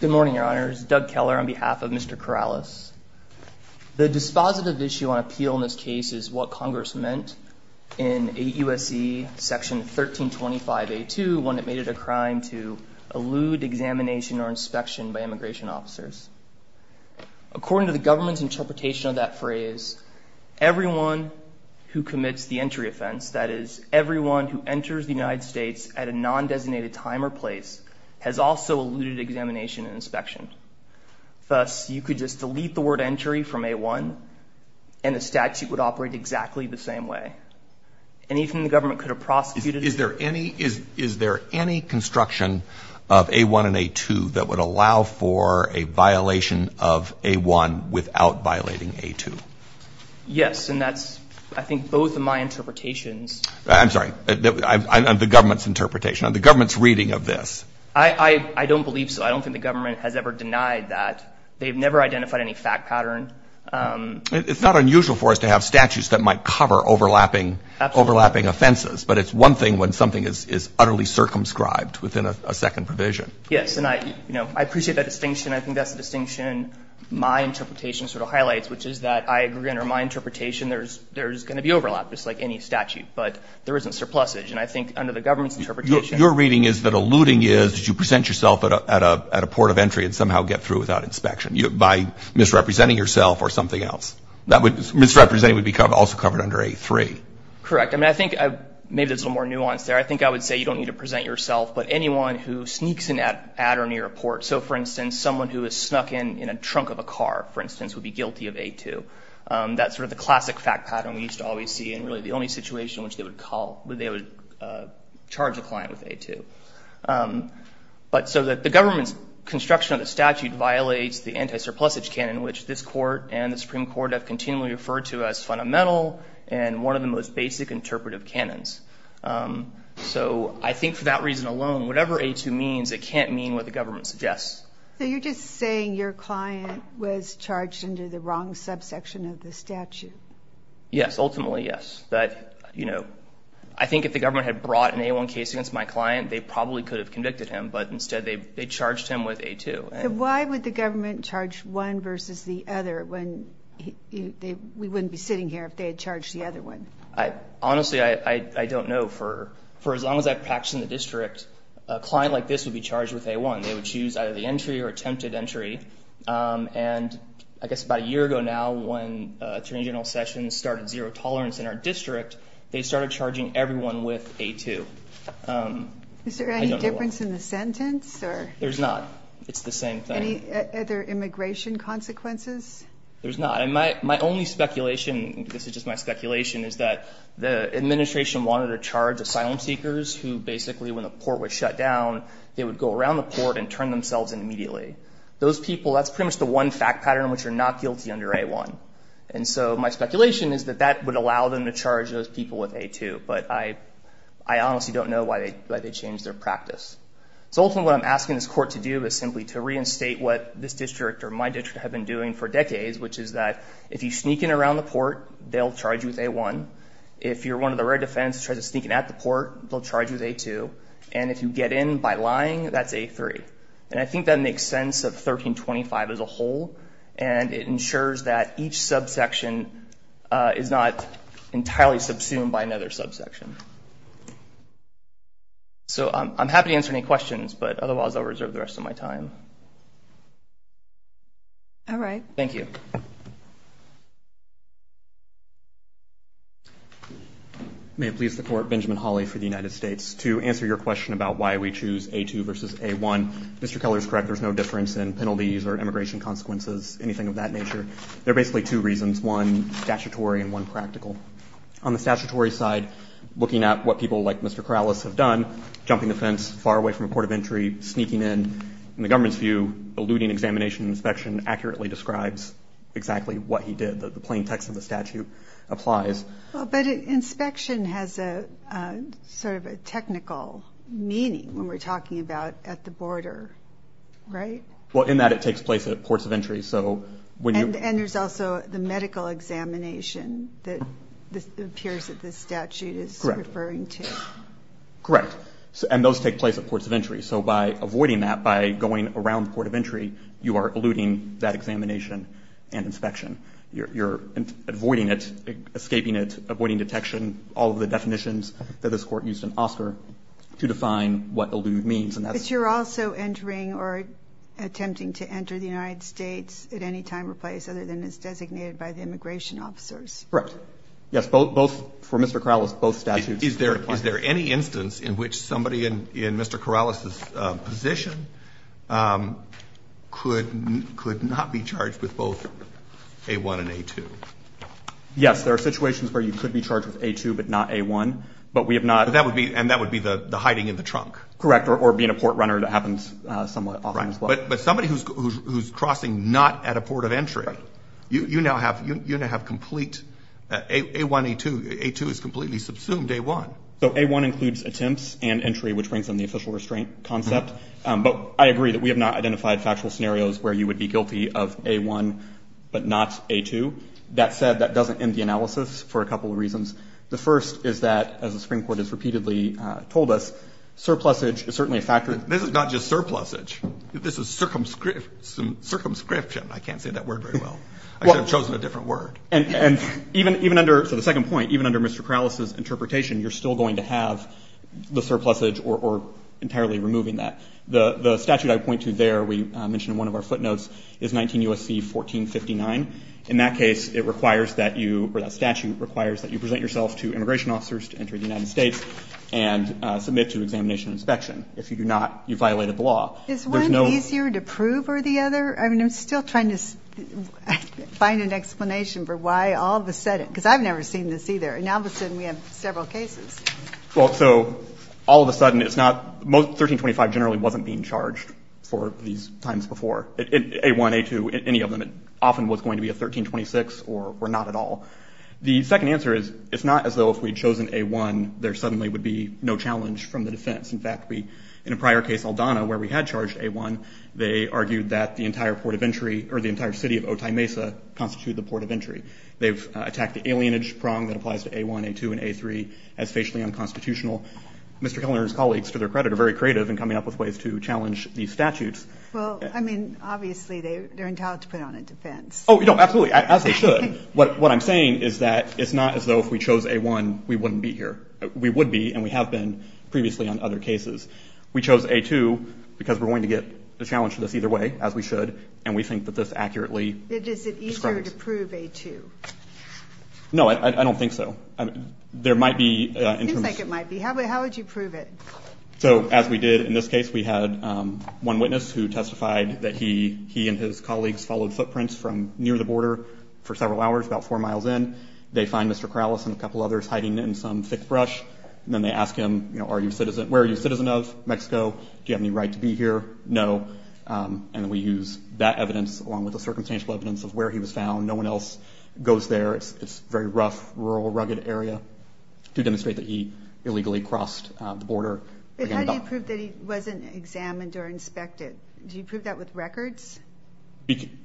Good morning, Your Honors. Doug Keller on behalf of Mr. Corrales. The dispositive issue on appeal in this case is what Congress meant in 8 U.S.C. section 1325A2 when it made it a crime to elude examination or inspection by immigration officers. According to the government's interpretation of that phrase, everyone who commits the entry offense, that is, everyone who enters the United States at a non-designated time or place, has also eluded examination and inspection. Thus, you could just delete the word entry from A1 and the statute would operate exactly the same way. And even the government could have prosecuted it. Is there any construction of A1 and A2 that would allow for a violation of A1 without violating A2? Yes. And that's, I think, both of my interpretations. I'm sorry. The government's interpretation. The government's reading of this. I don't believe so. I don't think the government has ever denied that. They've never identified any fact pattern. It's not unusual for us to have statutes that might cover overlapping offenses. But it's one thing when something is utterly circumscribed within a second provision. Yes. And I appreciate that distinction. I think that's the distinction my interpretation sort of highlights, which is that I agree, under my interpretation, there's going to be overlap, just like any statute. But there isn't surplusage. And I think under the government's interpretation. Your reading is that eluding is that you present yourself at a port of entry and somehow get through without inspection by misrepresenting yourself or something else. Misrepresenting would also be covered under A3. Correct. I mean, I think maybe there's a little more nuance there. I think I would say you don't need to present yourself, but anyone who sneaks in at or near a port. So, for instance, someone who is snuck in in a trunk of a car, for instance, would be guilty of A2. That's sort of the classic fact pattern we used to always see. And really, the only situation which they would charge a client with A2. But so that the government's construction of the statute violates the anti-surplusage canon, which this court and the Supreme Court have continually referred to as fundamental and one of the most basic interpretive canons. So I think for that reason alone, whatever A2 means, it can't mean what the government suggests. So you're just saying your client was charged under the wrong subsection of the statute? Yes. Ultimately, yes. But, you know, I think if the government had brought an A1 case against my client, they probably could have convicted him. But instead, they charged him with A2. Why would the government charge one versus the other when we wouldn't be sitting here if they had charged the other one? Honestly, I don't know. For as long as I've practiced in the district, a client like this would be charged with A1. They would choose either the entry or attempted entry. And I guess about a year ago now, when Attorney General Sessions started zero tolerance in our district, they started charging everyone with A2. Is there any difference in the sentence or? There's not. It's the same thing. Any other immigration consequences? There's not. My only speculation, this is just my speculation, is that the administration wanted to charge asylum seekers who basically, when the port was shut down, they would go around the port and turn themselves in immediately. Those people, that's pretty much the one fact pattern in which you're not guilty under A1. And so my speculation is that that would allow them to charge those people with A2. But I honestly don't know why they changed their practice. So ultimately, what I'm asking this court to do is simply to reinstate what this district or my district have been doing for decades, which is that if you sneak in around the port, they'll charge you with A1. If you're one of the rare defendants who tries to sneak in at the port, they'll charge you with A2. And if you get in by lying, that's A3. And I think that makes sense of 1325 as a whole. And it ensures that each subsection is not entirely subsumed by another subsection. So I'm happy to answer any questions, but otherwise I'll reserve the rest of my time. All right. Thank you. May it please the court, Benjamin Hawley for the United States. To answer your question about why we choose A2 versus A1, Mr. Keller is correct. There's no difference in penalties or immigration consequences, anything of that nature. There are basically two reasons, one statutory and one practical. On the statutory side, looking at what people like Mr. Corrales have done, jumping the fence far away from a port of entry, sneaking in, in the government's view, eluding examination and inspection accurately describes exactly what he did. The plain text of the statute applies. But inspection has a sort of a technical meaning when we're talking about at the border, right? Well, in that it takes place at ports of entry. And there's also the medical examination that appears that the statute is referring to. Correct. And those take place at ports of entry. So by avoiding that, by going around the port of entry, you are eluding that examination and inspection. You're avoiding it, escaping it, avoiding detection, all of the definitions that this Court used in Oscar to define what elude means. But you're also entering or attempting to enter the United States at any time or place other than it's designated by the immigration officers. Correct. Yes, both, for Mr. Corrales, both statutes. Is there any instance in which somebody in Mr. Corrales' position could not be charged with both A-1 and A-2? Yes, there are situations where you could be charged with A-2 but not A-1, but we have not. But that would be, and that would be the hiding in the trunk. Correct, or being a port runner that happens somewhat often as well. Right, but somebody who's crossing not at a port of entry, you now have complete, A-1, A-2, A-2 is completely subsumed A-1. So A-1 includes attempts and entry, which brings in the official restraint concept. But I agree that we have not identified factual scenarios where you would be guilty of A-1 but not A-2. That said, that doesn't end the analysis for a couple of reasons. The first is that, as the Supreme Court has repeatedly told us, surplusage is certainly a factor. This is not just surplusage, this is circumscription. I can't say that word very well. I should have chosen a different word. And even under, so the second point, even under Mr. Corrales' interpretation, you're still going to have the surplusage or entirely removing that. The statute I point to there, we mentioned in one of our footnotes, is 19 U.S.C. 1459. In that case, it requires that you, or that statute requires that you present yourself to immigration officers to enter the United States and submit to examination and inspection. If you do not, you violated the law. Is one easier to prove or the other? I mean, I'm still trying to find an explanation for why all of a sudden, because I've never seen this either, and now all of a sudden we have several cases. Well, so all of a sudden it's not, 1325 generally wasn't being charged for these times before. A1, A2, any of them, it often was going to be a 1326 or not at all. The second answer is, it's not as though if we'd chosen A1, there suddenly would be no challenge from the defense. In fact, we, in a prior case, Aldana, where we had charged A1, they argued that the entire port of entry, or the entire city of Otay Mesa, constituted the port of entry. They've attacked the alienage prong that applies to A1, A2, and A3 as facially unconstitutional. Mr. Kellner and his colleagues, to their credit, are very creative in coming up with ways to challenge these statutes. Well, I mean, obviously they're entitled to put on a defense. Oh, no, absolutely, as they should. What I'm saying is that it's not as though if we chose A1, we wouldn't be here. We would be, and we have been previously on other cases. We chose A2 because we're going to get a challenge to this either way, as we should, and we think that this accurately describes. Is it easier to prove A2? No, I don't think so. There might be. It seems like it might be. How would you prove it? So, as we did in this case, we had one witness who testified that he and his colleagues followed footprints from near the border for several hours, about four miles in. They find Mr. Corrales and a couple others hiding in some thick brush, and then they ask him, you know, are you a citizen, where are you a citizen of Mexico? Do you have any right to be here? No, and then we use that evidence, along with the circumstantial evidence of where he was found. No one else goes there. It's a very rough, rural, rugged area to demonstrate that he illegally crossed the border. But how do you prove that he wasn't examined or inspected? Do you prove that with records?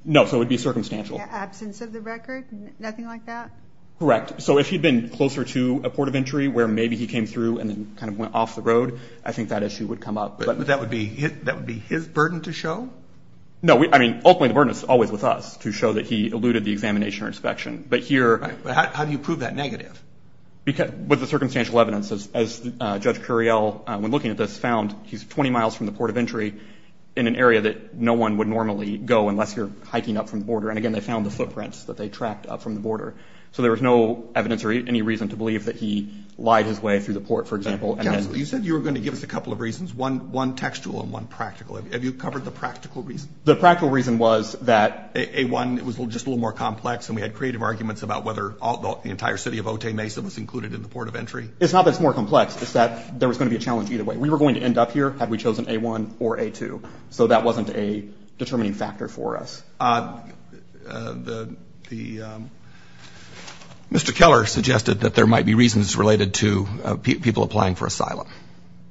No, so it would be circumstantial. Absence of the record, nothing like that? Correct. So if he'd been closer to a port of entry where maybe he came through and then kind of went off the road, I think that issue would come up. But that would be his burden to show? No, I mean, ultimately, the burden is always with us to show that he eluded the examination or inspection. But here... Right, but how do you prove that negative? Because with the circumstantial evidence, as Judge Curiel, when looking at this, found he's 20 miles from the port of entry in an area that no one would normally go unless you're hiking up from the border. And again, they found the footprints that they tracked up from the border. So there was no evidence or any reason to believe that he lied his way through the port, for example. Counsel, you said you were going to give us a couple of reasons. One textual and one practical. Have you covered the practical reason? The practical reason was that... A1, it was just a little more complex. And we had creative arguments about whether the entire city of Otay, Mesa was included in the port of entry. It's not that it's more complex. It's that there was going to be a challenge either way. We were going to end up here had we chosen A1 or A2. So that wasn't a determining factor for us. Mr. Keller suggested that there might be reasons related to people applying for asylum.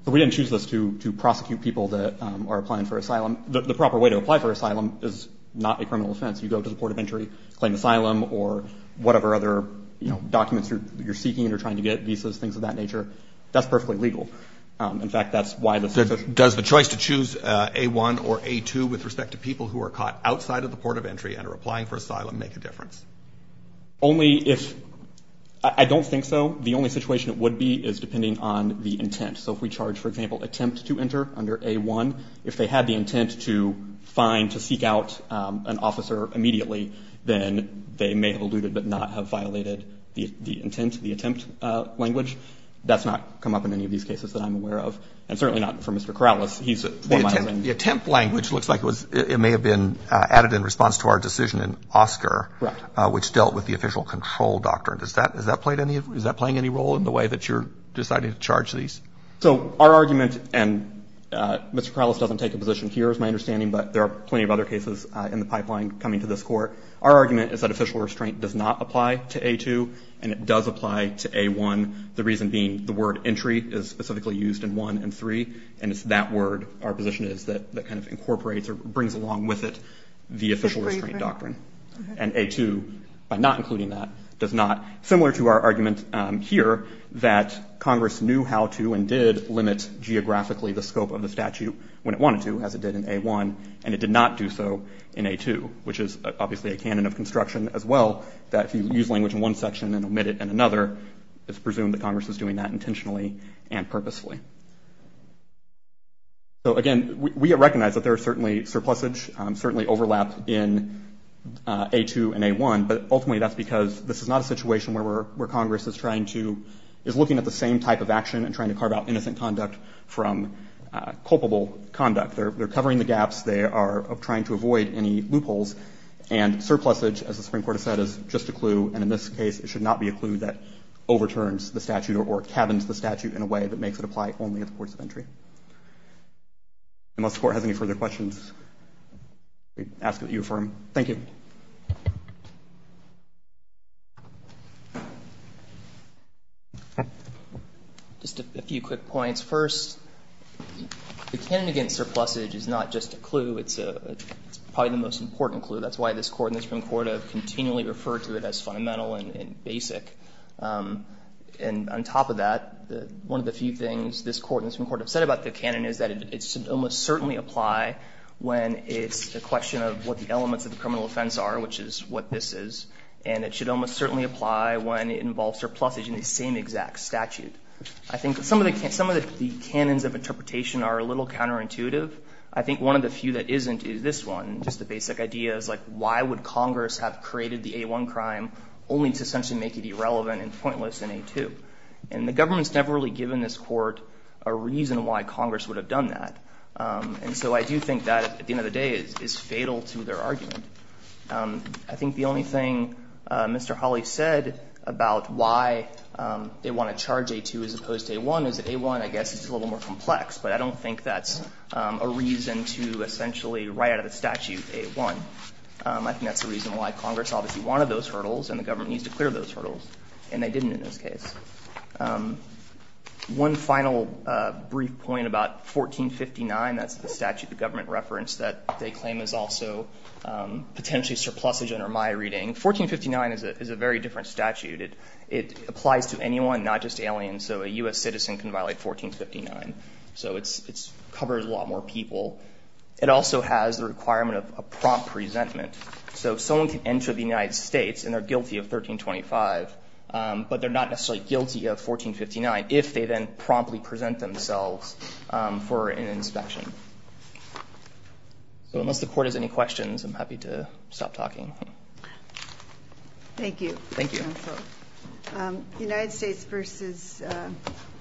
We didn't choose this to prosecute people that are applying for asylum. The proper way to apply for asylum is not a criminal offense. You go to the port of entry, claim asylum or whatever other, you know, documents you're seeking and you're trying to get visas, things of that nature. That's perfectly legal. In fact, that's why... Does the choice to choose A1 or A2 with respect to people who are caught outside of the port of entry and are applying for asylum make a difference? Only if... I don't think so. The only situation it would be is depending on the intent. So if we charge, for example, attempt to enter under A1, if they had the intent to find, to seek out an officer immediately, then they may have eluded but not have violated the intent, the attempt language. That's not come up in any of these cases that I'm aware of. And certainly not for Mr. Corrales. He's one mile in. The attempt language looks like it was, it may have been added in response to our decision in Oscar, which dealt with the official control doctrine. Does that, has that played any, is that playing any role in the way that you're deciding to charge these? So our argument, and Mr. Corrales doesn't take a position here is my understanding, but there are plenty of other cases in the pipeline coming to this court. Our argument is that official restraint does not apply to A2 and it does apply to A1. The reason being the word entry is specifically used in 1 and 3. And it's that word, our position is that kind of incorporates or brings along with it the official restraint doctrine. And A2, by not including that, does not, similar to our argument here that Congress knew how to and did limit geographically the scope of the statute when it wanted to, as it did in A1. And it did not do so in A2, which is obviously a canon of construction as well, that if you use language in one section and omit it in another, it's presumed that Congress is doing that intentionally and purposefully. So again, we recognize that there are certainly surpluses, certainly overlap in A2 and A1, but ultimately that's because this is not a situation where Congress is trying to, is looking at the same type of action and trying to carve out innocent conduct from culpable conduct. They're covering the gaps. They are trying to avoid any loopholes and surpluses, as the Supreme Court has said, is just a clue. And in this case, it should not be a clue that overturns the statute or cabins the statute in a way that makes it apply only at the courts of entry. Unless the Court has any further questions, we ask that you affirm. Thank you. Just a few quick points. First, the canon against surplusage is not just a clue. It's probably the most important clue. That's why this Court and the Supreme Court have continually referred to it as fundamental and basic. And on top of that, one of the few things this Court and the Supreme Court have said about the canon is that it should almost certainly apply when it's a question of what the elements of the criminal offense are, which is what this is. And it should almost certainly apply when it involves surplusage in the same exact statute. I think some of the canons of interpretation are a little counterintuitive. I think one of the few that isn't is this one, just the basic idea is why would Congress have created the A1 crime only to essentially make it irrelevant and pointless in A2, and the government's never really given this Court a reason why Congress would have done that, and so I do think that, at the end of the day, is fatal to their argument. I think the only thing Mr. Hawley said about why they want to charge A2 as opposed to A1 is that A1, I guess, is a little more complex, but I don't think that's a reason to essentially write out a statute A1, I think that's the reason why Congress obviously wanted those hurdles and the government needs to clear those hurdles, and they didn't in this case. One final brief point about 1459, that's the statute the government referenced that they claim is also potentially surplusage under my reading. 1459 is a very different statute, it applies to anyone, not just aliens, so a U.S. citizen can violate 1459, so it covers a lot more people. It also has the requirement of a prompt resentment, so if someone can enter the United States and they're guilty of 1325, but they're not necessarily guilty of 1459 if they then promptly present themselves for an inspection. So unless the Court has any questions, I'm happy to stop talking. Thank you. Thank you. The United States v.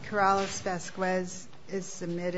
Corrales-Vasquez is submitted.